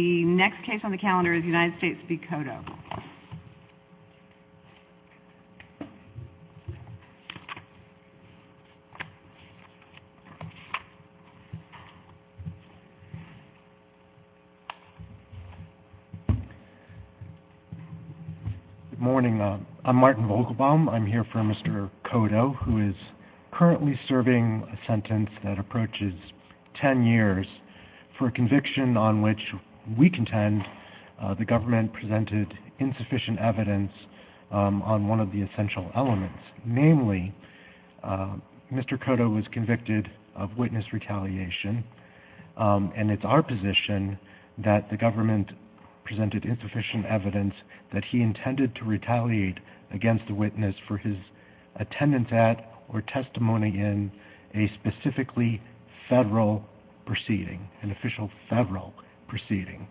The next case on the calendar is United States v. Kodo. Good morning. I'm Martin Vogelbaum. I'm here for Mr. Kodo, who is currently serving a sentence that approaches 10 years for a conviction on which we contend the government presented insufficient evidence on one of the essential elements. Namely, Mr. Kodo was convicted of witness retaliation, and it's our position that the government presented insufficient evidence that he intended to retaliate against the witness for his attendance at or testimony in a specifically federal proceeding, an official federal proceeding.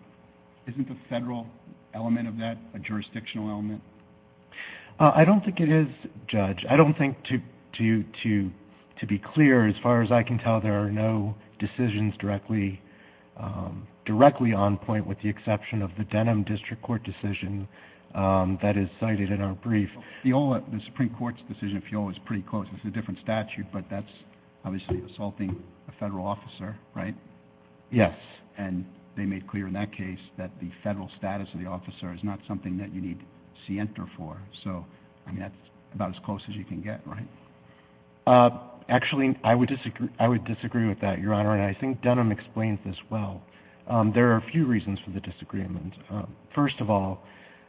Isn't the federal element of that a jurisdictional element? I don't think it is, Judge. I don't think, to be clear, as far as I can tell, there are no decisions directly on point with the exception of the Denham District Court decision that is cited in our brief. The Supreme Court's decision, if you will, is pretty close. It's a different statute, but that's obviously assaulting a federal officer, right? Yes. And they made clear in that case that the federal status of the officer is not something that you need scienter for. So, I mean, that's about as close as you can get, right? Actually, I would disagree with that, Your Honor, and I think Denham explains this well. There are a few reasons for the disagreement. First of all,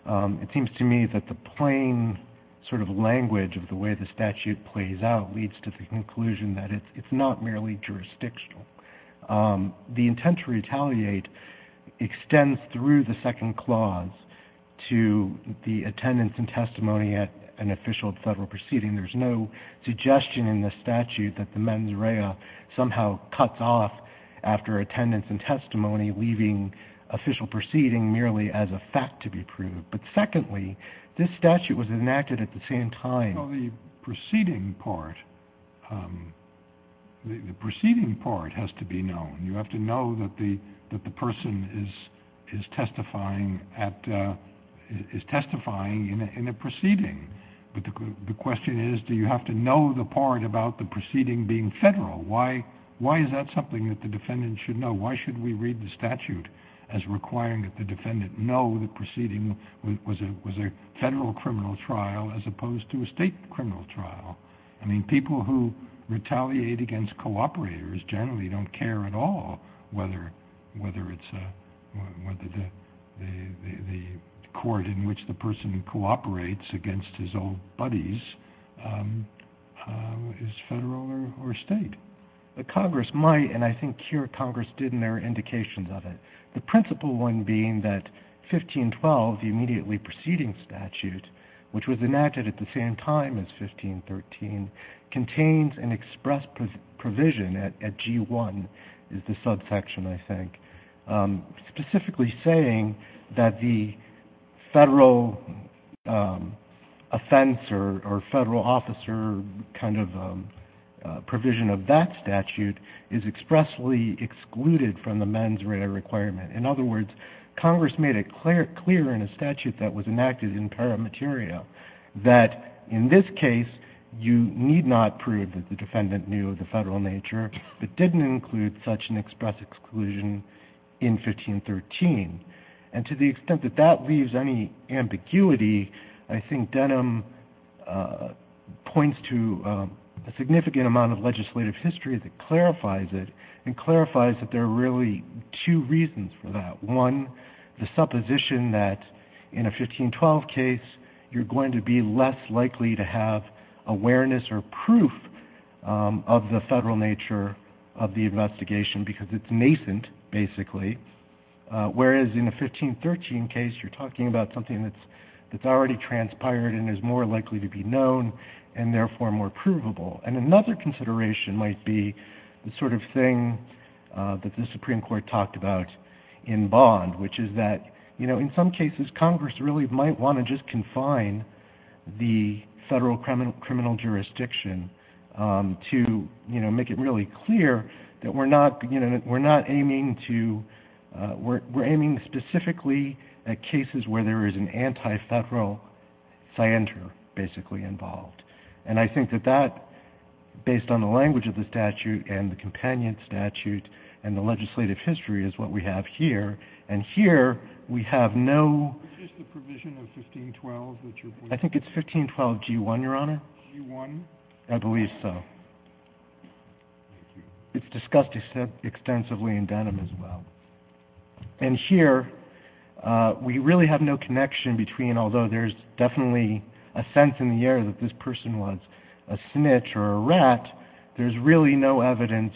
it seems to me that the plain sort of language of the way the statute plays out leads to the conclusion that it's not merely jurisdictional. The intent to retaliate extends through the second clause to the attendance and testimony at an official federal proceeding. There's no suggestion in the statute that the mens rea somehow cuts off after attendance and testimony, leaving official proceeding merely as a fact to be proved. But secondly, this statute was enacted at the same time. Well, the proceeding part has to be known. You have to know that the person is testifying in a proceeding. But the question is, do you have to know the part about the proceeding being federal? Why is that something that the defendant should know? Why should we read the statute as requiring that the defendant know the proceeding was a federal criminal trial as opposed to a state criminal trial? I mean, people who retaliate against cooperators generally don't care at all whether the court in which the person cooperates against his old buddies is federal or state. The Congress might, and I think here Congress did and there are indications of it. The principle one being that 1512, the immediately proceeding statute, which was enacted at the same time as 1513, contains an express provision at G1, is the subsection, I think, specifically saying that the federal offense or federal officer kind of provision of that statute is expressly excluded from the mens rea requirement. In other words, Congress made it clear in the statute that was enacted in paramateria that in this case you need not prove that the defendant knew the federal nature, but didn't include such an express exclusion in 1513. And to the extent that that leaves any ambiguity, I think Denham points to a significant amount of legislative history that clarifies it and clarifies that there are really two reasons for that. One, the supposition that in a 1512 case you're going to be less likely to have awareness or proof of the federal nature of the investigation because it's nascent, basically, whereas in a 1513 case you're talking about something that's already transpired and is more likely to be known and therefore more provable. And another consideration might be the sort of thing that the Supreme Court talked about in Bond, which is that in some cases Congress really might want to just confine the federal criminal jurisdiction to make it really clear that we're aiming specifically at cases where there is an anti-federal scienter basically involved. And I think that that, based on the language of the statute and the companion statute and the legislative history, is what we have here. And here we have no I think it's 1512 G1, Your Honor. I believe so. It's discussed extensively in Denham as well. And here we really have no connection between, although there's definitely a sense in the air that this person was a snitch or a rat, there's really no evidence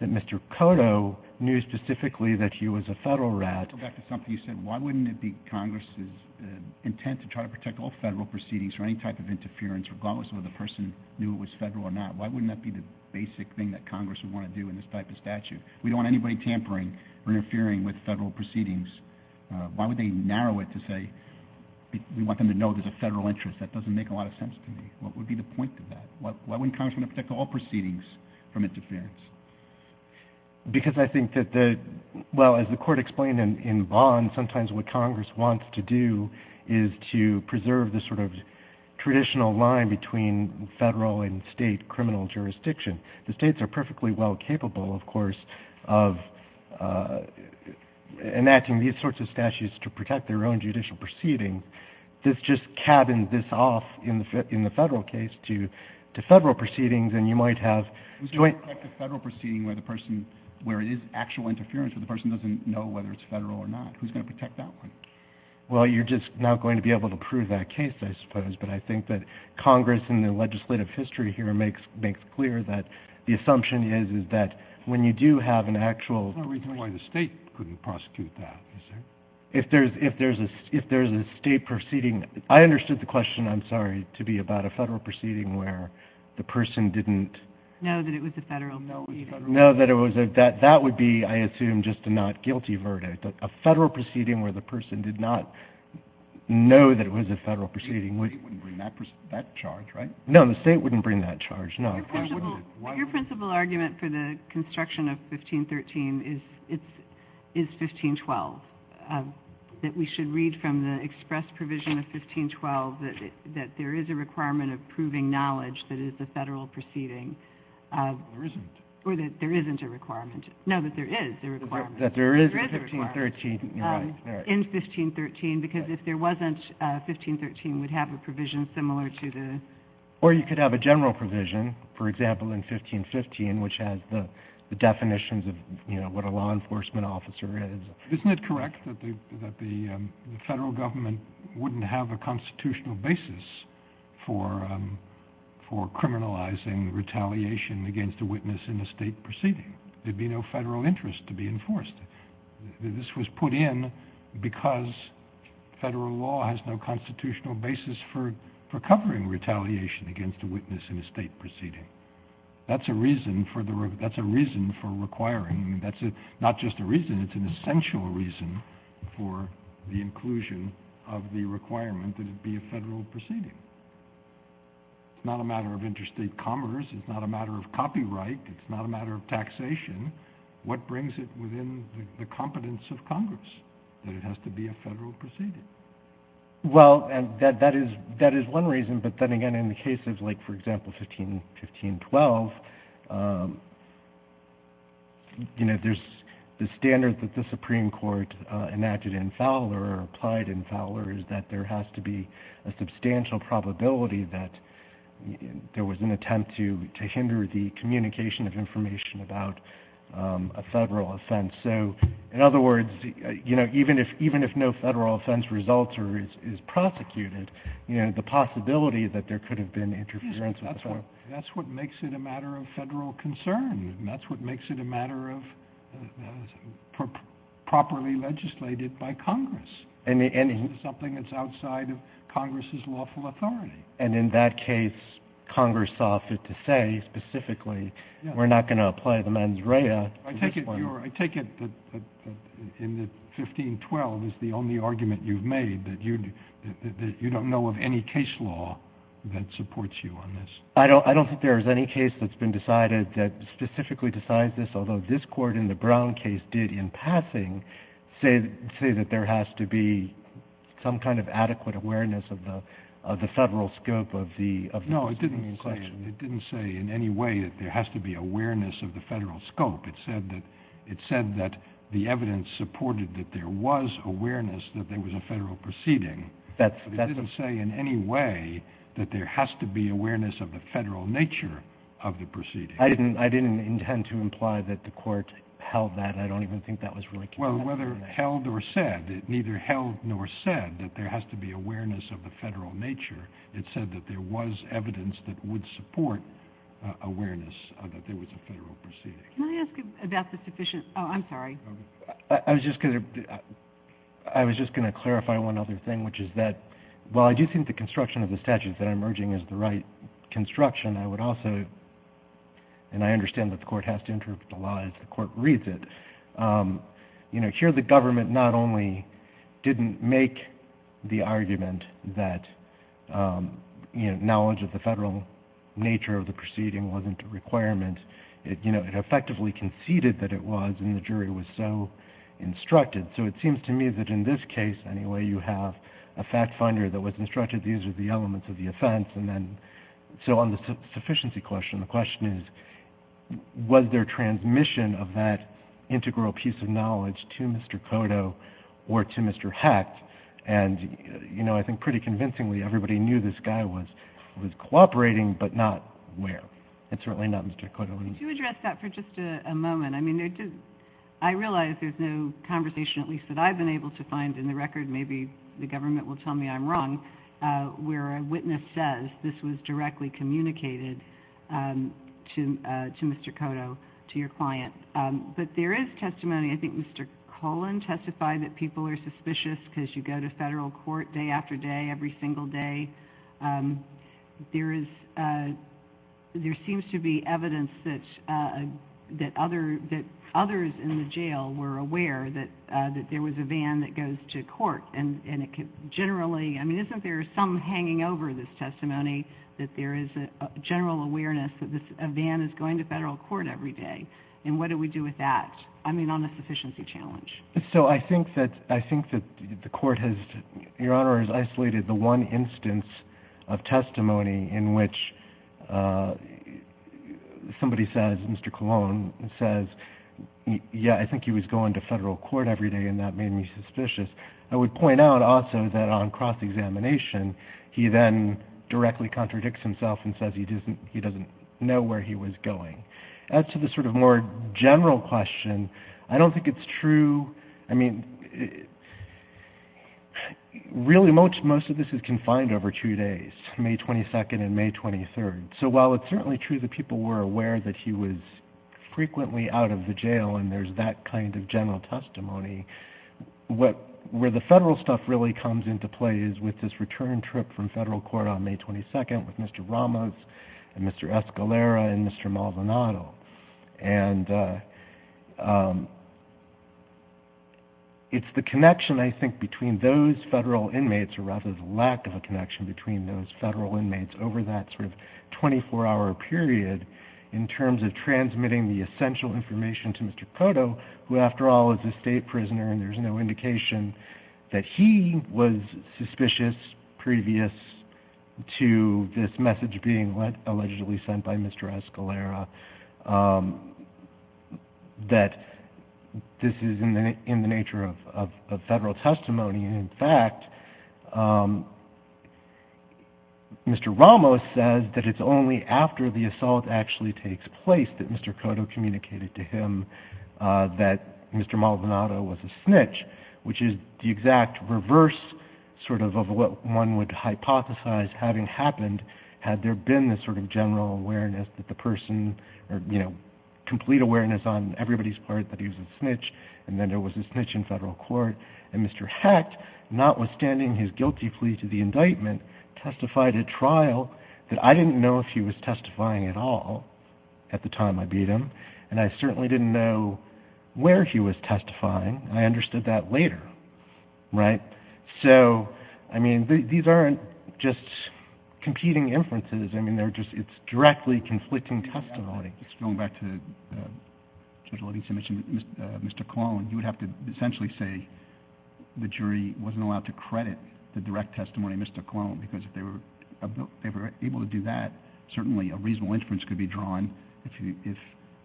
that Mr. Cotto knew specifically that he was a federal rat. Go back to something you said. Why wouldn't it be Congress's intent to try to protect all federal proceedings for any type of interference regardless of whether the person knew it was federal or not? Why wouldn't that be the basic thing that Congress would want to do in this type of statute? We don't want anybody tampering or interfering with federal proceedings. Why would they narrow it to say, we want them to know there's a federal interest? That doesn't make a lot of sense to me. What would be the point of that? Why wouldn't Congress want to protect all proceedings from interference? Because I think that the, well, as the court explained in Vaughn, sometimes what Congress wants to do is to preserve the sort of traditional line between federal and state criminal jurisdiction. The states are perfectly well capable, of course, of enacting these sorts of statutes to protect their own judicial proceedings. This just cabins this off in the federal case to federal proceedings, and you might have... Who's going to protect a federal proceeding where the person, where it is actual interference, where the person doesn't know whether it's federal or not? Who's going to protect that one? Well, you're just not going to be able to prove that case, I suppose. But I think that Congress in the legislative history here makes clear that the assumption is, is that when you do have an actual... What are we doing? Why the state couldn't prosecute that? If there's a state proceeding... I understood the question, I'm sorry, to be about a federal proceeding where the person didn't... Know that it was a federal proceeding. Know that it was a... That would be, I assume, just a not guilty verdict. A federal proceeding where the person did not know that it was a federal proceeding... The state wouldn't bring that charge, right? No, the state wouldn't bring that charge, no. Your principal argument for the construction of 1513 is 1512. That we should read from the express provision of 1512 that there is a requirement of proving knowledge that is the federal proceeding. There isn't. Or that there isn't a requirement. No, that there is a requirement. That there is a 1513. In 1513, because if there wasn't, 1513 would have a provision similar to the... Or you could have a general provision, for example, in 1515, which has the definitions of what a law enforcement officer is. Isn't it correct that the federal government wouldn't have a constitutional basis for criminalizing retaliation against a witness in a state proceeding? There'd be no federal interest to be enforced. This was put in because federal law has no constitutional basis for covering retaliation against a witness in a state proceeding. That's a reason for requiring... That's not just a reason, it's an essential reason for the inclusion of the requirement that it be a federal proceeding. It's not a matter of interstate commerce. It's not a matter of copyright. It's not a matter of taxation. What brings it within the competence of Congress? That it has to be a federal proceeding. Well, and that is one reason. But then again, in the cases like, for example, 1512, you know, there's the standard that the Supreme Court enacted in Fowler or applied in Fowler is that there has to be a substantial probability that there was an attempt to hinder the communication of a federal offense. So, in other words, you know, even if even if no federal offense results or is prosecuted, you know, the possibility that there could have been interference. That's what that's what makes it a matter of federal concern and that's what makes it a matter of properly legislated by Congress and something that's outside of Congress's lawful authority. And in that case, Congress offered to say specifically, we're not going to apply the sanctions. I take it that in the 1512 is the only argument you've made that you don't know of any case law that supports you on this. I don't I don't think there is any case that's been decided that specifically decides this, although this court in the Brown case did in passing say that there has to be some kind of adequate awareness of the of the federal scope of the of no, it didn't say it has to be awareness of the federal scope. It said that it said that the evidence supported that there was awareness that there was a federal proceeding that didn't say in any way that there has to be awareness of the federal nature of the proceedings. I didn't I didn't intend to imply that the court held that. I don't even think that was well, whether held or said it neither held nor said that there has to be awareness of the federal nature. It said that there was evidence that would support awareness that there was a federal proceeding. Can I ask about the sufficient? Oh, I'm sorry. I was just going to I was just going to clarify one other thing, which is that while I do think the construction of the statute that I'm urging is the right construction, I would also and I understand that the court has to interpret the law as the court reads it. You know, here the government not only didn't make the argument that, you know, knowledge of the federal nature of the proceeding wasn't a requirement, you know, it effectively conceded that it was in the jury was so instructed. So it seems to me that in this case, anyway, you have a fact finder that was instructed these are the elements of the offense. And then so on the sufficiency question, the question is, was there transmission of that integral piece of knowledge to Mr. Cotto or to Mr. Hecht? And, you know, I think pretty convincingly, everybody knew this guy was, was cooperating, but not where it's really not Mr. Cotto. To address that for just a moment. I mean, I realize there's no conversation, at least that I've been able to find in the record. Maybe the government will tell me I'm wrong where a witness says this was directly communicated to, to Mr. Cotto, to your client. But there is testimony. I think Mr. Colon testified that people are suspicious because you go to federal court day after day, every single day. There is, there seems to be evidence that, that other, that others in the jail were aware that, that there was a van that goes to court and, and it could generally, I mean, isn't there some hanging over this testimony that there is a general awareness that this, a van is going to federal court every day. And what do we do with that? I mean, on a sufficiency challenge. So I think that, I think that the court has, your honor has isolated the one instance of testimony in which somebody says, Mr. Colon says, yeah, I think he was going to federal court every day. And that made me suspicious. I would point out also that on cross-examination, he then directly contradicts himself and says he doesn't, he doesn't know where he was going. As to the sort of more general question, I don't think it's true. I mean, really most, most of this is confined over two days, May 22nd and May 23rd. So while it's certainly true that people were aware that he was frequently out of the jail and there's that kind of general testimony, what, where the federal stuff really comes into play is with this return trip from federal court on May 22nd with Mr. Ramos and Mr. Escalera and Mr. Maldonado. And it's the connection I think between those federal inmates or rather the lack of a connection between those federal inmates over that sort of 24 hour period in terms of transmitting the essential information to Mr. Cotto, who after all is a state prisoner and there's no indication that he was suspicious previous to this message being allegedly sent by Mr. Escalera, that this is in the nature of federal testimony. And in fact, Mr. Ramos says that it's only after the assault actually takes place that Mr. Cotto communicated to him that Mr. Maldonado, what one would hypothesize having happened, had there been this sort of general awareness that the person or, you know, complete awareness on everybody's part that he was a snitch and then there was a snitch in federal court and Mr. Hecht, notwithstanding his guilty plea to the indictment, testified at trial that I didn't know if he was testifying at all at the time I beat him. And I certainly didn't know where he was testifying. I understood that later. Right. So, I mean, these aren't just competing inferences. I mean, they're just, it's directly conflicting testimony. It's going back to Judge Levinson mentioned Mr. Colon, you would have to essentially say the jury wasn't allowed to credit the direct testimony of Mr. Colon because if they were able to do that, certainly a reasonable inference could be drawn if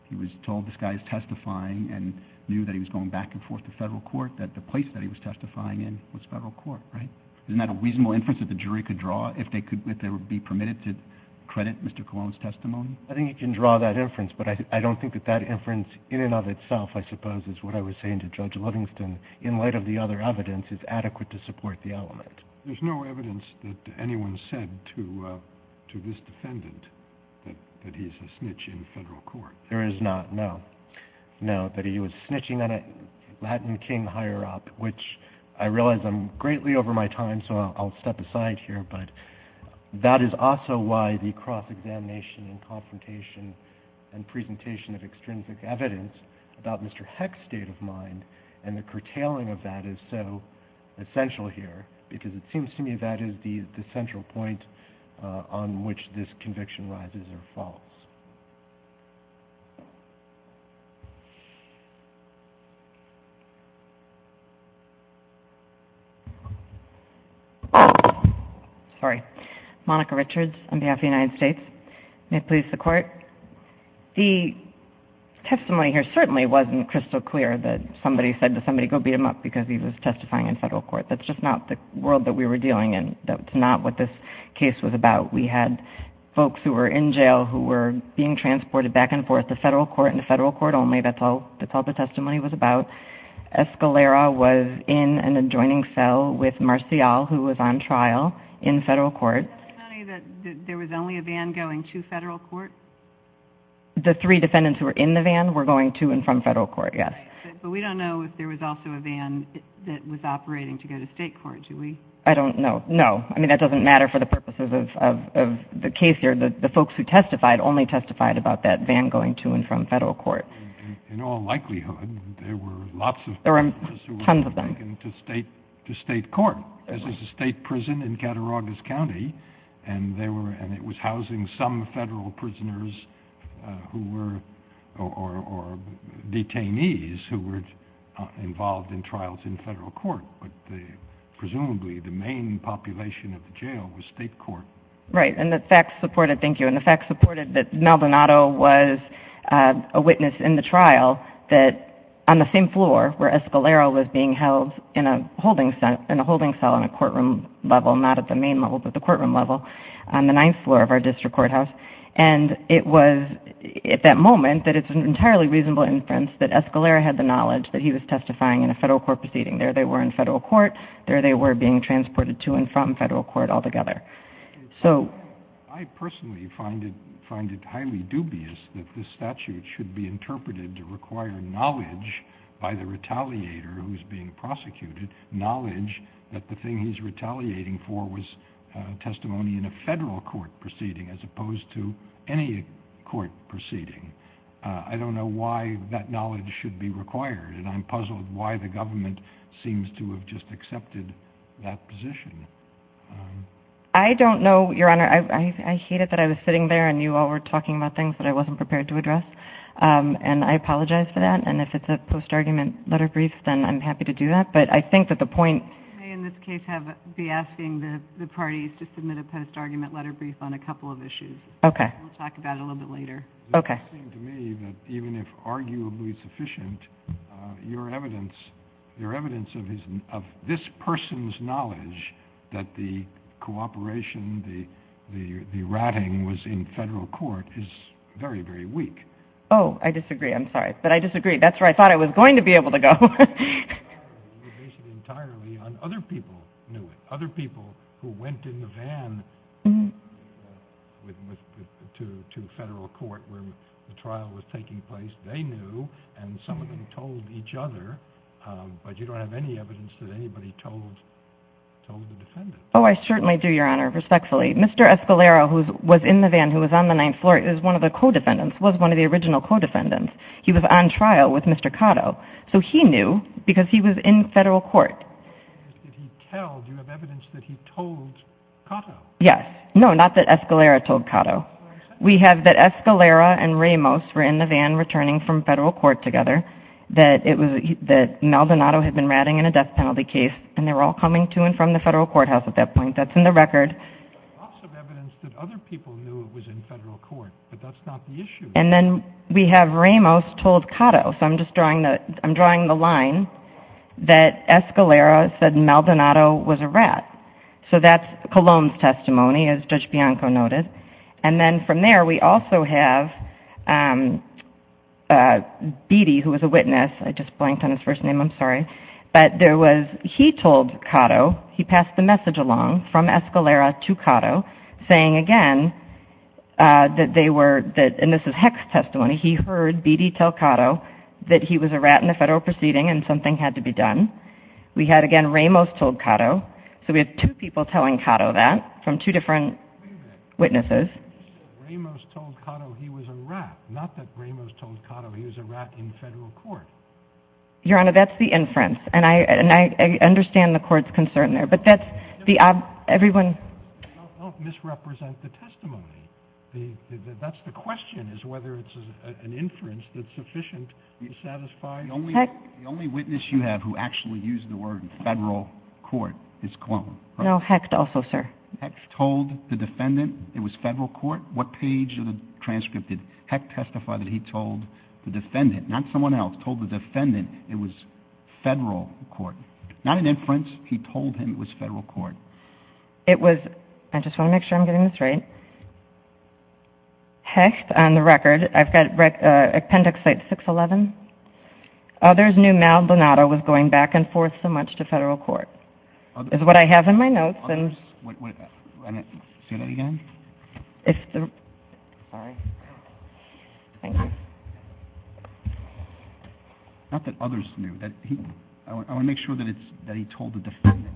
he was told this guy is testifying and knew that he was going back and forth to federal court, that the place that he was testifying in was federal court, right? Isn't that a reasonable inference that the jury could draw if they could, if they would be permitted to credit Mr. Colon's testimony? I think you can draw that inference, but I don't think that that inference in and of itself, I suppose, is what I was saying to Judge Livingston in light of the other evidence is adequate to support the element. There's no evidence that anyone said to, uh, to this defendant that he's a snitch in federal court. There is not. No, no. But he was snitching on a Latin King higher up, which I realize I'm greatly over my time. So I'll step aside here. But that is also why the cross examination and confrontation and presentation of extrinsic evidence about Mr. Heck's state of mind and the curtailing of that is so essential here because it seems to me that is the central point on which this conviction rises or falls. Sorry, Monica Richards on behalf of the United States, may it please the court. The testimony here certainly wasn't crystal clear that somebody said to somebody, go beat him up because he was testifying in federal court. That's just not the world that we were dealing in. That's not what this case was about. We had folks who were in jail who were being transported back and forth to federal court and federal court only. That's all the testimony was about. Escalera was in an adjoining cell with Marcial who was on trial in federal court. There was only a van going to federal court? The three defendants who were in the van were going to and from federal court, yes. But we don't know if there was also a van that was operating to go to state court. Do we? I don't know. No. I mean, that doesn't matter for the purposes of the case here. The folks who testified only testified about that van going to and from federal court. In all likelihood, there were lots of people who were taken to state court. This is a state prison in Cattaraugus County, and it was housing some federal prisoners or detainees who were involved in trials in federal court. But presumably, the main population of the jail was state court. Right. And the facts supported, thank you. that on the same floor where Escalera was being held in a holding cell in a courtroom level, not at the main level but the courtroom level, on the ninth floor of our district courthouse. And it was at that moment that it's an entirely reasonable inference that Escalera had the knowledge that he was testifying in a federal court proceeding. There they were in federal court. There they were being transported to and from federal court altogether. I personally find it highly dubious that this statute should be interpreted to require knowledge by the retaliator who is being prosecuted, knowledge that the thing he's retaliating for was testimony in a federal court proceeding as opposed to any court proceeding. I don't know why that knowledge should be required, and I'm puzzled why the government seems to have just accepted that position. I don't know, Your Honor. I hate it that I was sitting there and you all were talking about things that I wasn't prepared to address, and I apologize for that. And if it's a post-argument letter brief, then I'm happy to do that. But I think that the point – You may in this case be asking the parties to submit a post-argument letter brief on a couple of issues. Okay. We'll talk about it a little bit later. Okay. It seems to me that even if arguably sufficient, your evidence of this person's knowledge that the cooperation, the ratting was in federal court is very, very weak. Oh, I disagree. I'm sorry. But I disagree. That's where I thought I was going to be able to go. You base it entirely on other people knew it, other people who went in the van to federal court where the trial was taking place. They knew, and some of them told each other, but you don't have any evidence that anybody told the defendant. Oh, I certainly do, Your Honor, respectfully. Mr. Escalera, who was in the van, who was on the ninth floor, is one of the co-defendants, was one of the original co-defendants. He was on trial with Mr. Cotto. So he knew because he was in federal court. If he tells, do you have evidence that he told Cotto? Yes. No, not that Escalera told Cotto. We have that Escalera and Ramos were in the van returning from federal court together, that Maldonado had been ratting in a death penalty case, and they were all coming to and from the federal courthouse at that point. That's in the record. There's lots of evidence that other people knew it was in federal court, but that's not the issue. And then we have Ramos told Cotto, so I'm just drawing the line, that Escalera said Maldonado was a rat. So that's Cologne's testimony, as Judge Bianco noted. And then from there, we also have Beattie, who was a witness. I just blanked on his first name. I'm sorry. But there was he told Cotto, he passed the message along from Escalera to Cotto, saying again that they were, and this is Hecht's testimony, he heard Beattie tell Cotto that he was a rat in the federal proceeding and something had to be done. We had, again, Ramos told Cotto. So we have two people telling Cotto that from two different witnesses. Wait a minute. Ramos told Cotto he was a rat, not that Ramos told Cotto he was a rat in federal court. Your Honor, that's the inference. And I understand the court's concern there. But that's the, everyone. Don't misrepresent the testimony. That's the question, is whether it's an inference that's sufficient to satisfy the only witness you have who actually used the word federal court. It's Cologne. No, Hecht also, sir. Hecht told the defendant it was federal court. What page of the transcript did Hecht testify that he told the defendant, not someone else, told the defendant it was federal court? Not an inference. He told him it was federal court. It was, I just want to make sure I'm getting this right. Hecht on the record. I've got appendix 611. Others knew Mal Donato was going back and forth so much to federal court. That's what I have in my notes. Say that again? Sorry. Thank you. Not that others knew. I want to make sure that he told the defendant.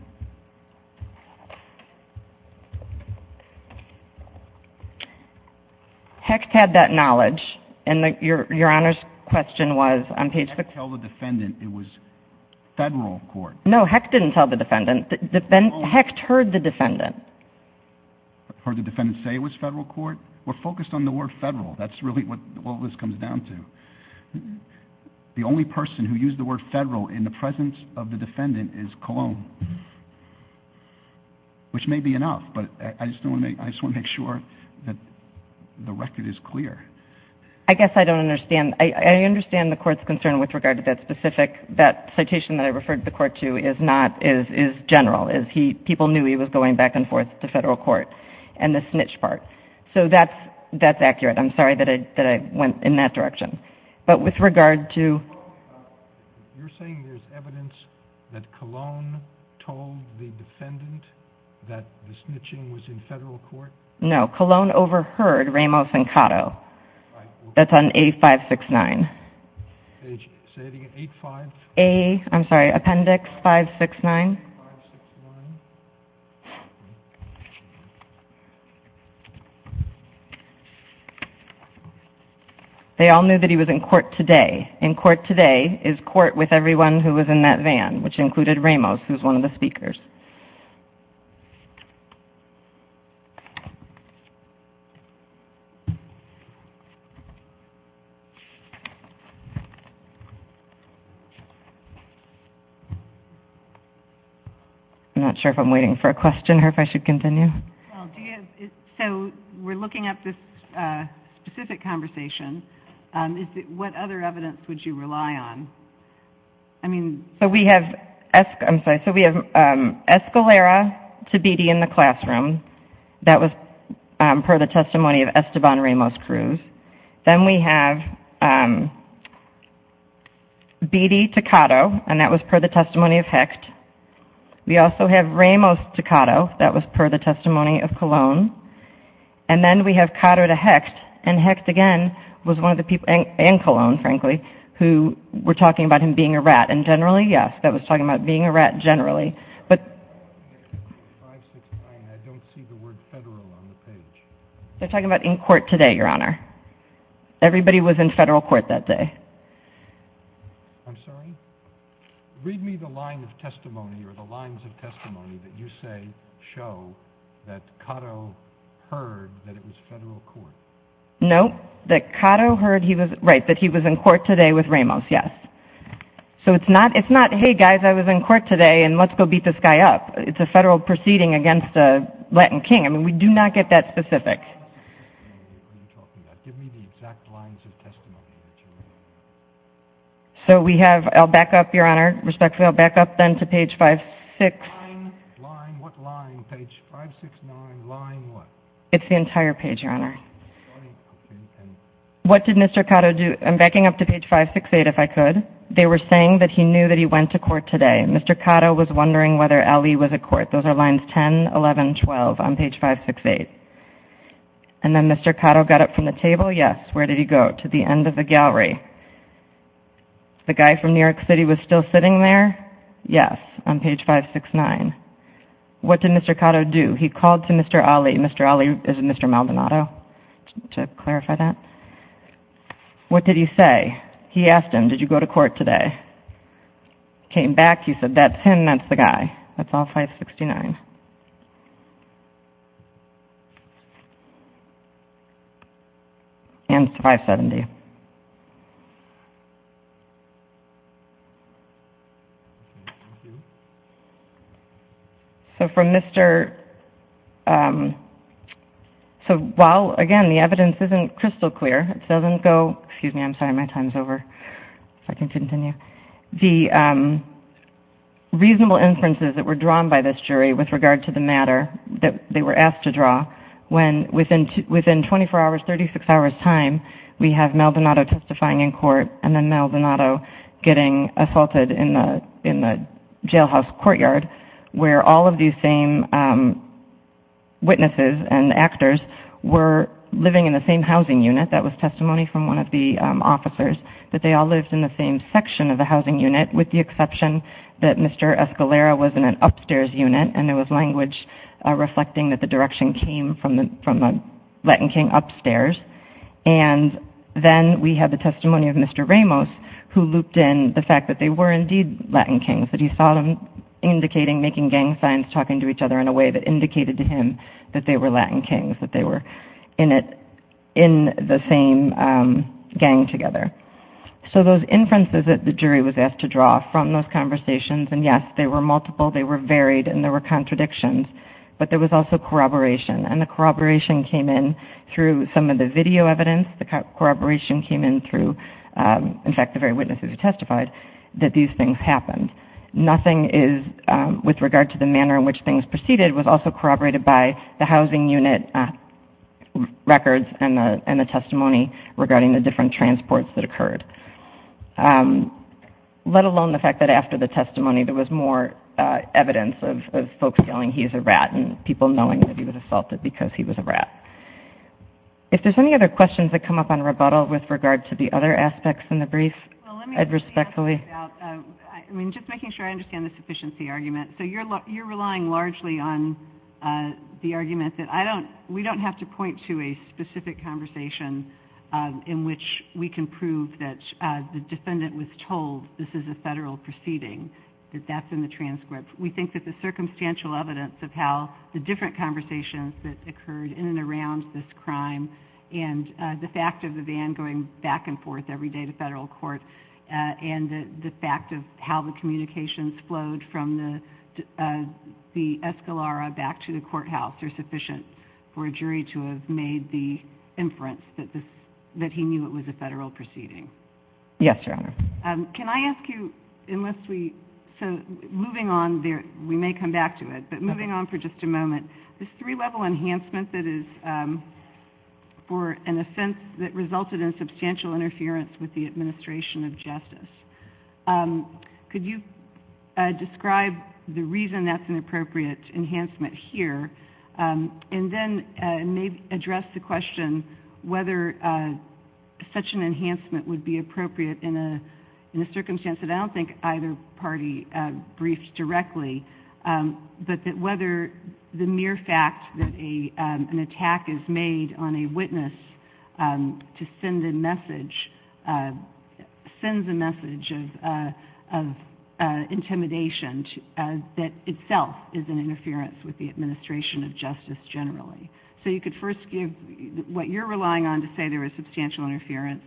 Hecht had that knowledge. And your Honor's question was on page 611. Hecht told the defendant it was federal court. No, Hecht didn't tell the defendant. Hecht heard the defendant. Heard the defendant say it was federal court? We're focused on the word federal. That's really what all this comes down to. The only person who used the word federal in the presence of the defendant is Cologne. Which may be enough, but I just want to make sure that the record is clear. I guess I don't understand. I understand the court's concern with regard to that specific, that citation that I referred the court to is general. People knew he was going back and forth to federal court. And the snitch part. So that's accurate. I'm sorry that I went in that direction. But with regard to... You're saying there's evidence that Cologne told the defendant that the snitching was in federal court? No, Cologne overheard Ramos and Cotto. That's on A569. A, I'm sorry, Appendix 569. They all knew that he was in court today. In court today is court with everyone who was in that van, which included Ramos, who was one of the speakers. I'm not sure if I'm waiting for a question or if I should continue. So we're looking at this specific conversation. What other evidence would you rely on? I mean... So we have Escalera to Beattie in the classroom. That was per the testimony of Esteban Ramos-Cruz. Then we have Beattie to Cotto, and that was per the testimony of Hecht. We also have Ramos to Cotto. That was per the testimony of Cologne. And then we have Cotto to Hecht. And Hecht, again, was one of the people, and Cologne, frankly, who were talking about him being a rat. And generally, yes, that was talking about being a rat generally. But... A569, I don't see the word federal on the page. They're talking about in court today, Your Honor. Everybody was in federal court that day. I'm sorry? Read me the line of testimony or the lines of testimony that you say show that Cotto heard that it was federal court. No, that Cotto heard he was in court today with Ramos, yes. So it's not, hey, guys, I was in court today, and let's go beat this guy up. It's a federal proceeding against a Latin king. I mean, we do not get that specific. What are you talking about? Give me the exact lines of testimony that you have. So we have, I'll back up, Your Honor, respectfully. I'll back up then to page 569. Line? Line? What line? Page 569, line what? It's the entire page, Your Honor. What did Mr. Cotto do? I'm backing up to page 568 if I could. They were saying that he knew that he went to court today. Mr. Cotto was wondering whether Ali was at court. Those are lines 10, 11, 12 on page 568. And then Mr. Cotto got up from the table, yes. Where did he go? To the end of the gallery. The guy from New York City was still sitting there? Yes, on page 569. What did Mr. Cotto do? He called to Mr. Ali. Mr. Ali is Mr. Maldonado, to clarify that. What did he say? He asked him, did you go to court today? Came back, he said, that's him, that's the guy. That's all 569. And 570. So from Mr. So while, again, the evidence isn't crystal clear, it doesn't go, excuse me, I'm sorry, my time is over. If I can continue. The reasonable inferences that were drawn by this jury with regard to the matter that they were asked to draw, when within 24 hours, 36 hours time, we have Maldonado testifying in court and then Maldonado getting assaulted in the jailhouse courtyard where all of these same witnesses and actors were living in the same housing unit, that was testimony from one of the officers, that they all lived in the same section of the housing unit, with the exception that Mr. Escalera was in an upstairs unit and there was language reflecting that the direction came from a Latin king upstairs. And then we have the testimony of Mr. Ramos, who looped in the fact that they were indeed Latin kings, that he saw them indicating, making gang signs, talking to each other in a way that indicated to him that they were Latin kings, that they were in the same gang together. So those inferences that the jury was asked to draw from those conversations, and yes, they were multiple, they were varied, and there were contradictions, but there was also corroboration. And the corroboration came in through some of the video evidence, the corroboration came in through, in fact, the very witnesses who testified, that these things happened. Nothing is, with regard to the manner in which things proceeded, was also corroborated by the housing unit records and the testimony regarding the different transports that occurred. Let alone the fact that after the testimony, there was more evidence of folks yelling, he is a rat, and people knowing that he was assaulted because he was a rat. If there's any other questions that come up on rebuttal with regard to the other aspects in the brief, I'd respectfully. I mean, just making sure I understand the sufficiency argument. So you're relying largely on the argument that I don't, we don't have to point to a specific conversation in which we can prove that the defendant was told this is a federal proceeding, that that's in the transcript. We think that the circumstantial evidence of how the different conversations that occurred in and around this crime, and the fact of the van going back and forth every day to federal court, and the fact of how the communications flowed from the Escalara back to the courthouse are sufficient for a jury to have made the inference that he knew it was a federal proceeding. Yes, Your Honor. Can I ask you, unless we, so moving on, we may come back to it, but moving on for just a moment, this three-level enhancement that is for an offense that resulted in substantial interference with the administration of justice. Could you describe the reason that's an appropriate enhancement here, and then address the question whether such an enhancement would be appropriate in a circumstance that I don't think either party briefed directly, but that whether the mere fact that an attack is made on a witness to send a message, sends a message of intimidation, that itself is an interference with the administration of justice generally. So you could first give what you're relying on to say there was substantial interference,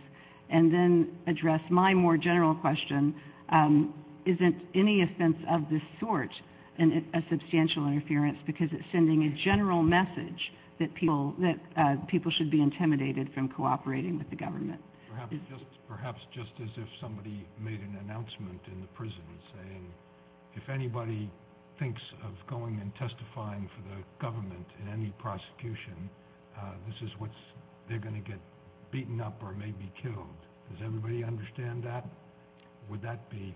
and then address my more general question, isn't any offense of this sort a substantial interference because it's sending a general message that people should be intimidated from cooperating with the government? Perhaps just as if somebody made an announcement in the prison saying, if anybody thinks of going and testifying for the government in any prosecution, this is what's, they're going to get beaten up or maybe killed. Does everybody understand that? Would that be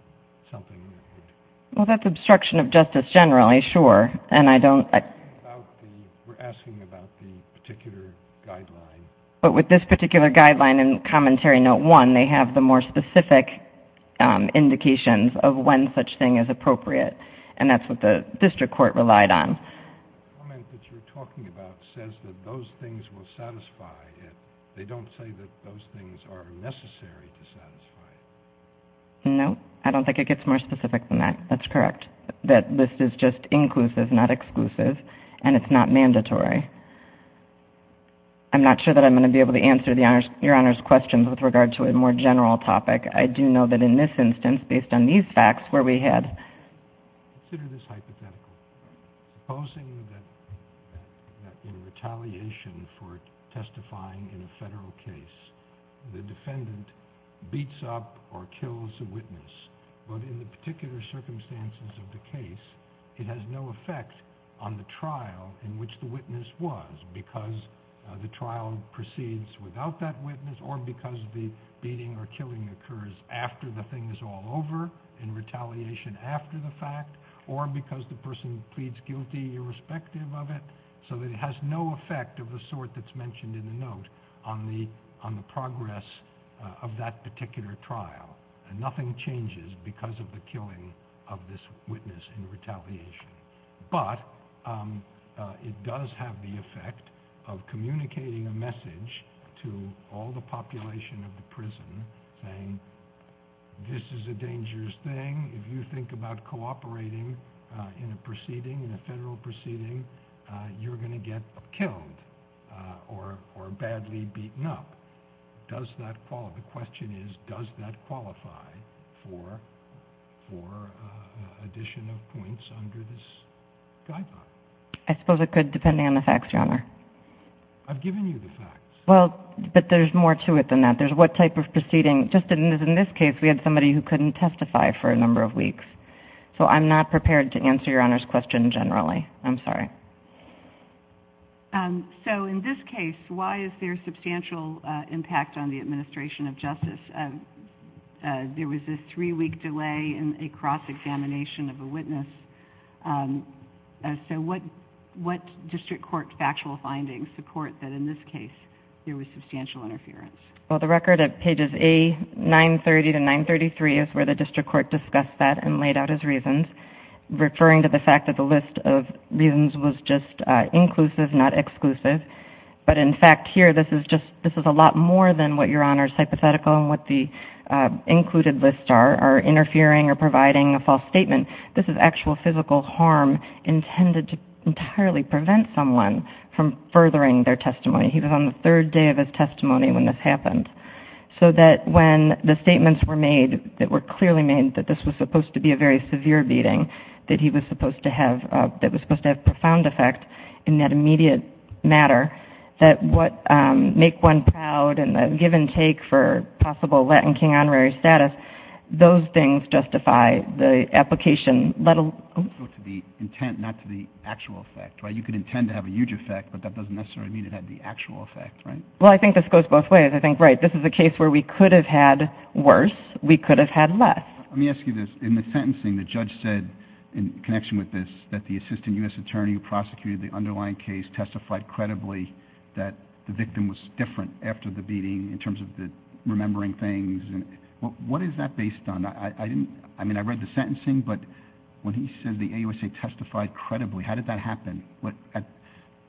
something that would? Well, that's obstruction of justice generally, sure, and I don't. We're asking about the particular guideline. But with this particular guideline in Commentary Note 1, they have the more specific indications of when such thing is appropriate, and that's what the district court relied on. The comment that you're talking about says that those things will satisfy it. They don't say that those things are necessary to satisfy it. No, I don't think it gets more specific than that. That's correct, that this is just inclusive, not exclusive, and it's not mandatory. I'm not sure that I'm going to be able to answer Your Honor's questions with regard to a more general topic. I do know that in this instance, based on these facts where we had. Consider this hypothetical. Supposing that in retaliation for testifying in a federal case, the defendant beats up or kills a witness, but in the particular circumstances of the case, it has no effect on the trial in which the witness was, because the trial proceeds without that witness or because the beating or killing occurs after the thing is all over, in retaliation after the fact, or because the person pleads guilty irrespective of it, so that it has no effect of the sort that's mentioned in the note on the progress of that particular trial. Nothing changes because of the killing of this witness in retaliation, but it does have the effect of communicating a message to all the population of the prison saying, this is a dangerous thing. If you think about cooperating in a proceeding, in a federal proceeding, you're going to get killed or badly beaten up. Does that qualify? The question is, does that qualify for addition of points under this guideline? I suppose it could, depending on the facts, Your Honor. I've given you the facts. Well, but there's more to it than that. There's what type of proceeding. Just in this case, we had somebody who couldn't testify for a number of weeks, so I'm not prepared to answer Your Honor's question generally. I'm sorry. In this case, why is there substantial impact on the administration of justice? There was a three-week delay in a cross-examination of a witness. What district court factual findings support that in this case, there was substantial interference? Well, the record at pages A930 to 933 is where the district court discussed that and laid out his reasons, referring to the fact that the list of reasons was just inclusive, not exclusive. But, in fact, here, this is a lot more than what Your Honor's hypothetical and what the included lists are, are interfering or providing a false statement. This is actual physical harm intended to entirely prevent someone from furthering their testimony. He was on the third day of his testimony when this happened. So that when the statements were made, that were clearly made that this was supposed to be a very severe beating, that he was supposed to have profound effect in that immediate matter, that what make one proud and give and take for possible Latin King honorary status, those things justify the application. Also to the intent, not to the actual effect, right? You could intend to have a huge effect, but that doesn't necessarily mean it had the actual effect, right? Well, I think this goes both ways. I think, right, this is a case where we could have had worse. We could have had less. Let me ask you this. In the sentencing, the judge said, in connection with this, that the assistant U.S. attorney who prosecuted the underlying case testified credibly that the victim was different after the beating in terms of remembering things. What is that based on? I mean, I read the sentencing, but when he says the AUSA testified credibly, how did that happen?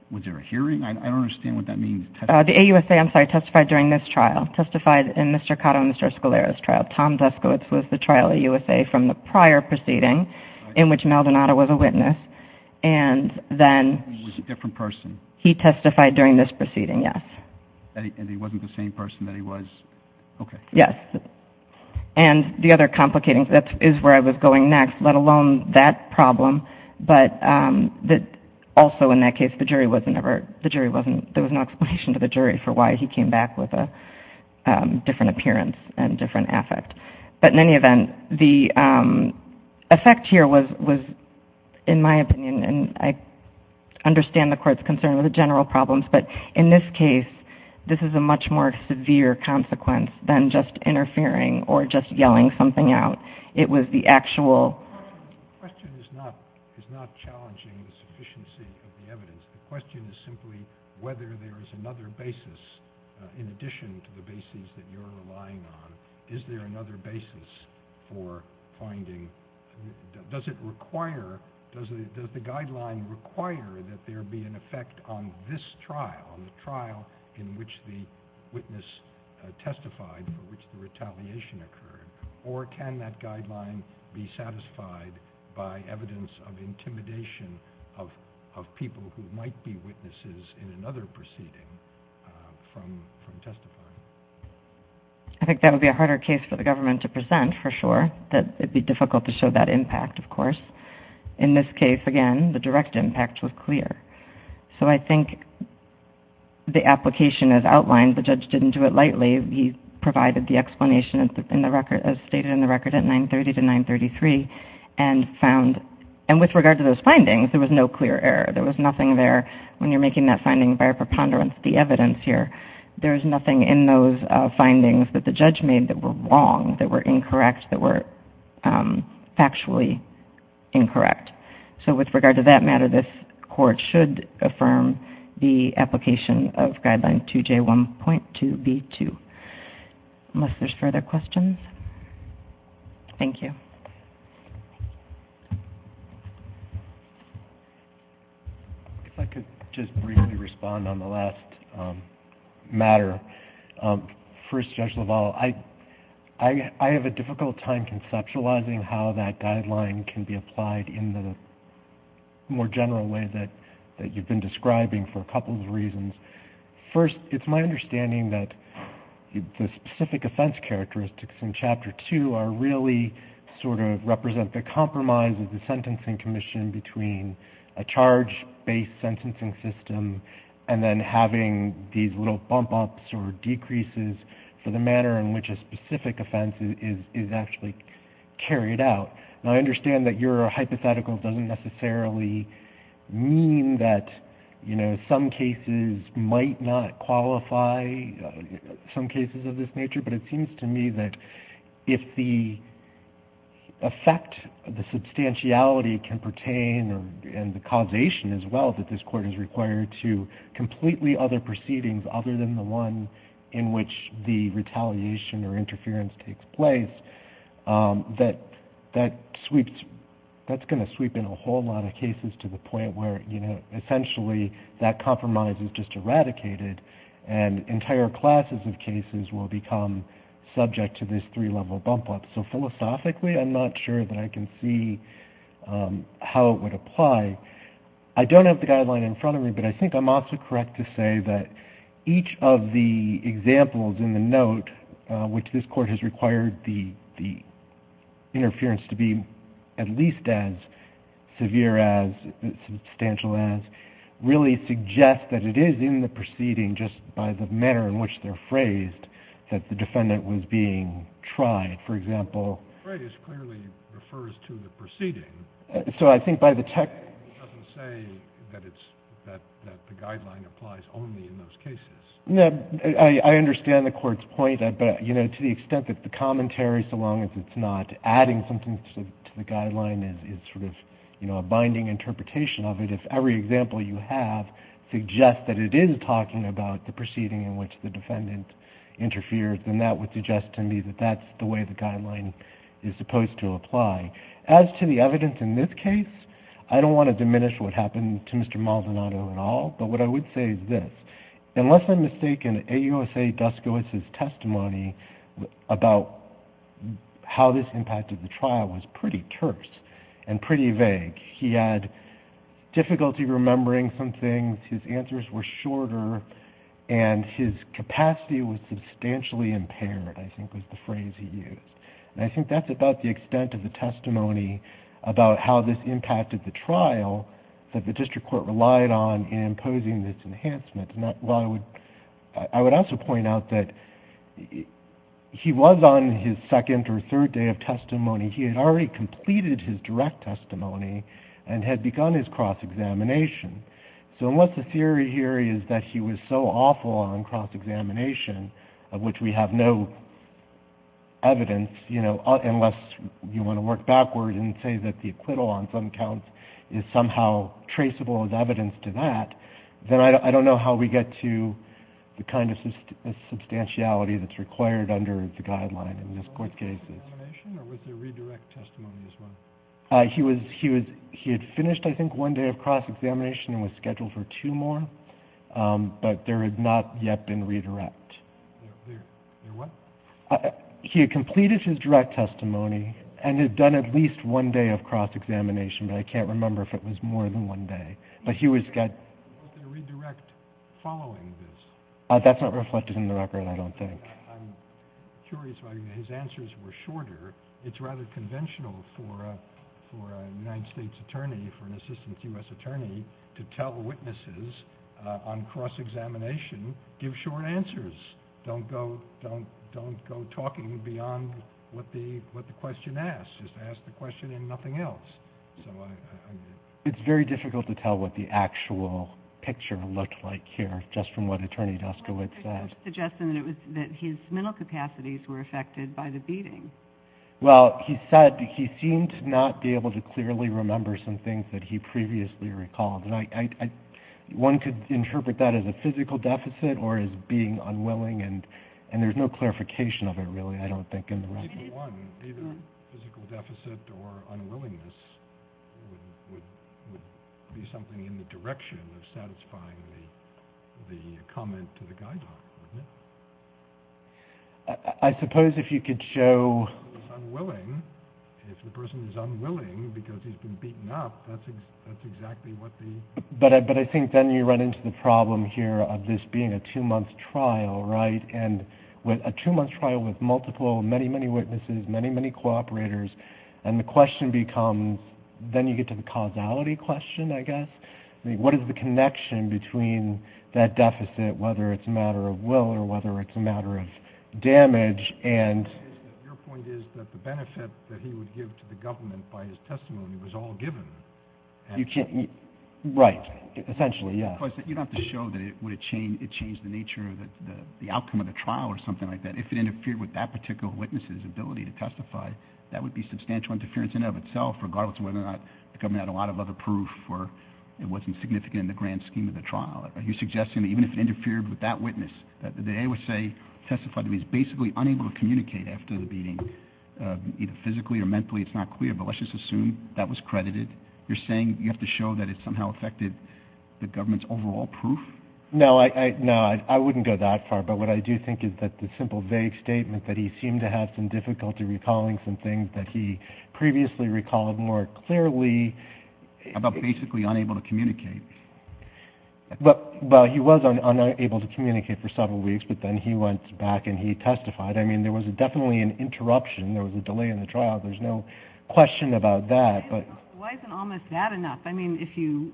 Was there a hearing? I don't understand what that means. The AUSA, I'm sorry, testified during this trial, testified in Mr. Cotto and Mr. Escalera's trial. Tom Deskowitz was the trial AUSA from the prior proceeding, in which Maldonado was a witness. And then he testified during this proceeding, yes. And he wasn't the same person that he was? Okay. Yes. And the other complicating thing is where I was going next, let alone that problem. But also in that case, the jury wasn't ever, there was no explanation to the jury for why he came back with a different appearance and different affect. But in any event, the effect here was, in my opinion, and I understand the court's concern with the general problems, but in this case, this is a much more severe consequence than just interfering or just yelling something out. It was the actual question. The question is not challenging the sufficiency of the evidence. The question is simply whether there is another basis, in addition to the basis that you're relying on, is there another basis for finding, does it require, does the guideline require that there be an effect on this trial, on the trial in which the witness testified, for which the retaliation occurred, or can that guideline be satisfied by evidence of intimidation of people who might be witnesses in another proceeding from testifying? I think that would be a harder case for the government to present, for sure, that it would be difficult to show that impact, of course. In this case, again, the direct impact was clear. So I think the application is outlined. The judge didn't do it lightly. He provided the explanation in the record, as stated in the record, at 930 to 933, and found, and with regard to those findings, there was no clear error. There was nothing there, when you're making that finding by a preponderance, the evidence here, there's nothing in those findings that the judge made that were wrong, that were incorrect, that were factually incorrect. So with regard to that matter, this court should affirm the application of Guideline 2J1.2B2. Unless there's further questions. Thank you. If I could just briefly respond on the last matter. First, Judge LaValle, I have a difficult time conceptualizing how that guideline can be applied in the more general way that you've been describing for a couple of reasons. First, it's my understanding that the specific offense characteristics in Chapter 2 really sort of represent the compromise of the sentencing commission between a charge-based sentencing system and then having these little bump-ups or decreases for the manner in which a specific offense is actually carried out. Now, I understand that your hypothetical doesn't necessarily mean that some cases might not qualify, some cases of this nature, but it seems to me that if the effect, the substantiality can pertain and the causation as well that this court is required to completely other proceedings other than the one in which the retaliation or interference takes place, that that's going to sweep in a whole lot of cases to the point where essentially that compromise is just eradicated and entire classes of cases will become subject to this three-level bump-up. So philosophically, I'm not sure that I can see how it would apply. I don't have the guideline in front of me, but I think I'm also correct to say that each of the examples in the note which this court has required the interference to be at least as severe as, substantial as, really suggest that it is in the proceeding just by the manner in which they're phrased that the defendant was being tried, for example. The phrase clearly refers to the proceeding. So I think by the technical... It doesn't say that the guideline applies only in those cases. No, I understand the Court's point, but to the extent that the commentary, so long as it's not adding something to the guideline, is sort of a binding interpretation of it, if every example you have suggests that it is talking about the proceeding in which the defendant interfered, then that would suggest to me that that's the way the guideline is supposed to apply. As to the evidence in this case, I don't want to diminish what happened to Mr. Maldonado at all, but what I would say is this. Unless I'm mistaken, AUSA Duskois' testimony about how this impacted the trial was pretty terse and pretty vague. He had difficulty remembering some things, his answers were shorter, and his capacity was substantially impaired, I think was the phrase he used. And I think that's about the extent of the testimony about how this impacted the trial that the district court relied on in imposing this enhancement. I would also point out that he was on his second or third day of testimony. He had already completed his direct testimony and had begun his cross-examination. So unless the theory here is that he was so awful on cross-examination, of which we have no evidence, unless you want to work backward and say that the acquittal on some counts is somehow traceable as evidence to that, then I don't know how we get to the kind of substantiality that's required under the guideline in this court's cases. Was there cross-examination or was there redirect testimony as well? He had finished, I think, one day of cross-examination and was scheduled for two more, but there had not yet been redirect. There what? He had completed his direct testimony and had done at least one day of cross-examination, but I can't remember if it was more than one day. Was there redirect following this? That's not reflected in the record, I don't think. I'm curious why his answers were shorter. It's rather conventional for a United States attorney, for an assistant U.S. attorney, to tell witnesses on cross-examination, give short answers. Don't go talking beyond what the question asks. Just ask the question and nothing else. It's very difficult to tell what the actual picture looked like here, just from what Attorney Duskowitz said. He was suggesting that his mental capacities were affected by the beating. Well, he said he seemed to not be able to clearly remember some things that he previously recalled. One could interpret that as a physical deficit or as being unwilling, and there's no clarification of it, really, I don't think, in the record. Either physical deficit or unwillingness would be something in the direction of satisfying the comment to the guide doc, wouldn't it? I suppose if you could show... If the person is unwilling because he's been beaten up, that's exactly what the... But I think then you run into the problem here of this being a two-month trial, right? And a two-month trial with multiple, many, many witnesses, many, many cooperators, and the question becomes... Then you get to the causality question, I guess. What is the connection between that deficit, whether it's a matter of will or whether it's a matter of damage, and... Your point is that the benefit that he would give to the government by his testimony was all given. You can't... Right. Essentially, yes. Of course, you'd have to show that it changed the nature of the outcome of the trial or something like that. If it interfered with that particular witness's ability to testify, that would be substantial interference in and of itself, regardless of whether or not the government had a lot of other proof or it wasn't significant in the grand scheme of the trial. Are you suggesting that even if it interfered with that witness, that the AUSA testified that he was basically unable to communicate after the beating, either physically or mentally, it's not clear, but let's just assume that was credited? You're saying you have to show that it somehow affected the government's overall proof? No, I wouldn't go that far, but what I do think is that the simple, vague statement that he seemed to have some difficulty recalling some things that he previously recalled more clearly... About basically unable to communicate. Well, he was unable to communicate for several weeks, but then he went back and he testified. I mean, there was definitely an interruption. There was a delay in the trial. There's no question about that. Why isn't almost that enough? I mean, if you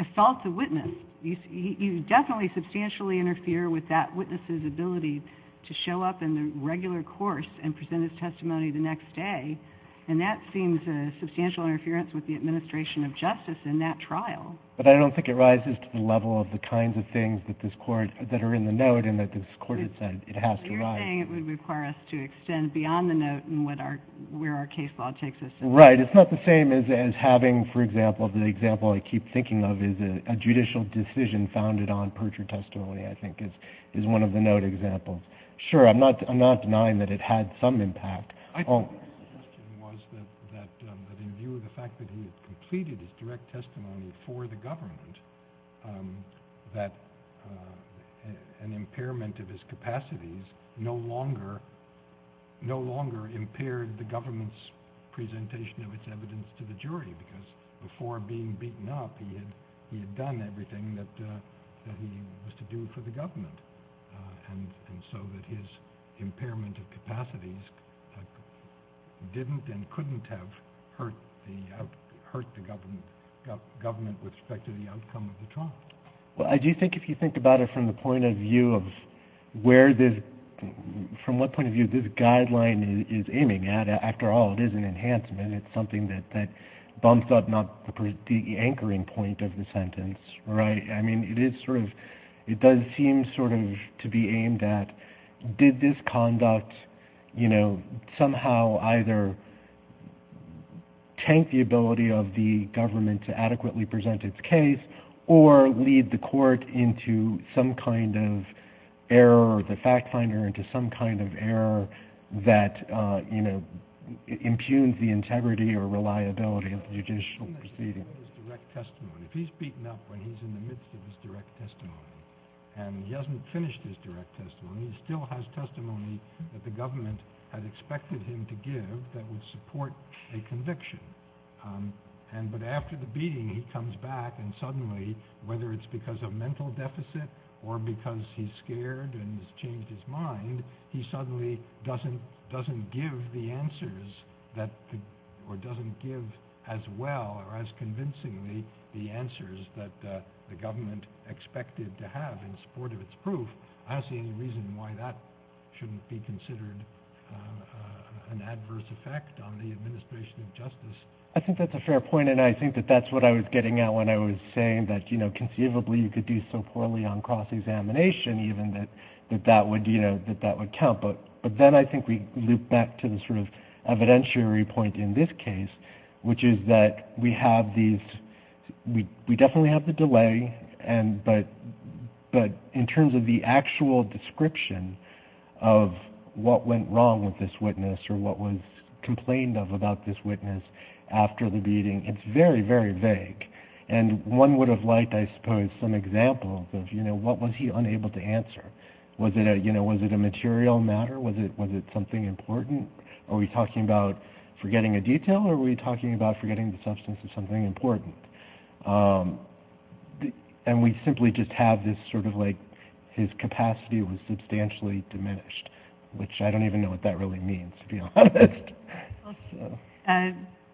assault the witness, you definitely substantially interfere with that witness's ability to show up in the regular course and present his testimony the next day, and that seems a substantial interference with the administration of justice in that trial. But I don't think it rises to the level of the kinds of things that are in the note and that this court had said it has to rise. You're saying it would require us to extend beyond the note where our case law takes us. Right. It's not the same as having, for example, the example I keep thinking of is a judicial decision founded on perjury testimony, I think, is one of the note examples. Sure, I'm not denying that it had some impact. I think the question was that in view of the fact that he had completed his direct testimony for the government, that an impairment of his capacities no longer impaired the government's presentation of its evidence to the jury because before being beaten up, he had done everything that he was to do for the government, and so that his impairment of capacities didn't and couldn't have hurt the government with respect to the outcome of the trial. Well, I do think if you think about it from the point of view of from what point of view this guideline is aiming at, after all, it is an enhancement. It's something that bumps up not the anchoring point of the sentence, right? I mean, it does seem sort of to be aimed at did this conduct, you know, somehow either tank the ability of the government to adequately present its case or lead the court into some kind of error or the fact finder into some kind of error that, you know, impugns the integrity or reliability of the judicial proceeding. If he's beaten up when he's in the midst of his direct testimony and he hasn't finished his direct testimony, he still has testimony that the government had expected him to give that would support a conviction, but after the beating he comes back and suddenly, whether it's because of mental deficit or because he's scared and has changed his mind, he suddenly doesn't give the answers or doesn't give as well or as convincingly the answers that the government expected to have in support of its proof. I don't see any reason why that shouldn't be considered an adverse effect on the administration of justice. I think that's a fair point and I think that that's what I was getting at when I was saying that, you know, conceivably you could do so poorly on cross-examination even that that would, you know, that that would count, but then I think we loop back to the sort of evidentiary point in this case, which is that we have these, we definitely have the delay, but in terms of the actual description of what went wrong with this witness or what was complained of about this witness after the beating, it's very, very vague and one would have liked, I suppose, some examples of, you know, what was he unable to answer. Was it a, you know, was it a material matter? Was it something important? Are we talking about forgetting a detail or are we talking about forgetting the substance of something important? And we simply just have this sort of like his capacity was substantially diminished, which I don't even know what that really means, to be honest.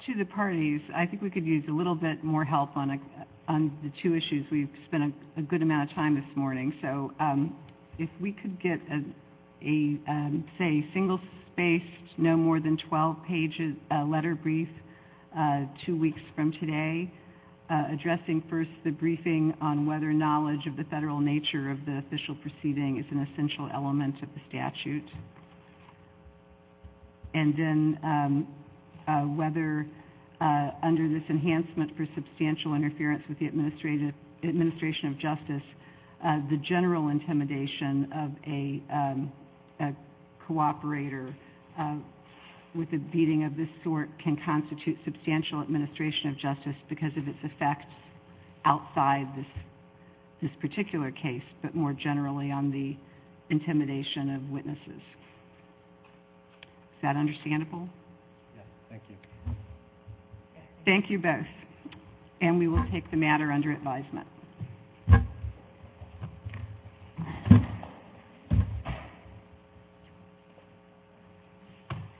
To the parties, I think we could use a little bit more help on the two issues. We've spent a good amount of time this morning, so if we could get a, say, single-spaced, no more than 12-page letter brief two weeks from today addressing first the briefing on whether knowledge of the federal nature of the official proceeding is an essential element of the statute and then whether under this enhancement for substantial interference with the administration of justice the general intimidation of a cooperator with a beating of this sort can constitute substantial administration of justice because of its effects outside this particular case, but more generally on the intimidation of witnesses. Is that understandable? Yes, thank you. Thank you both. And we will take the matter under advisement.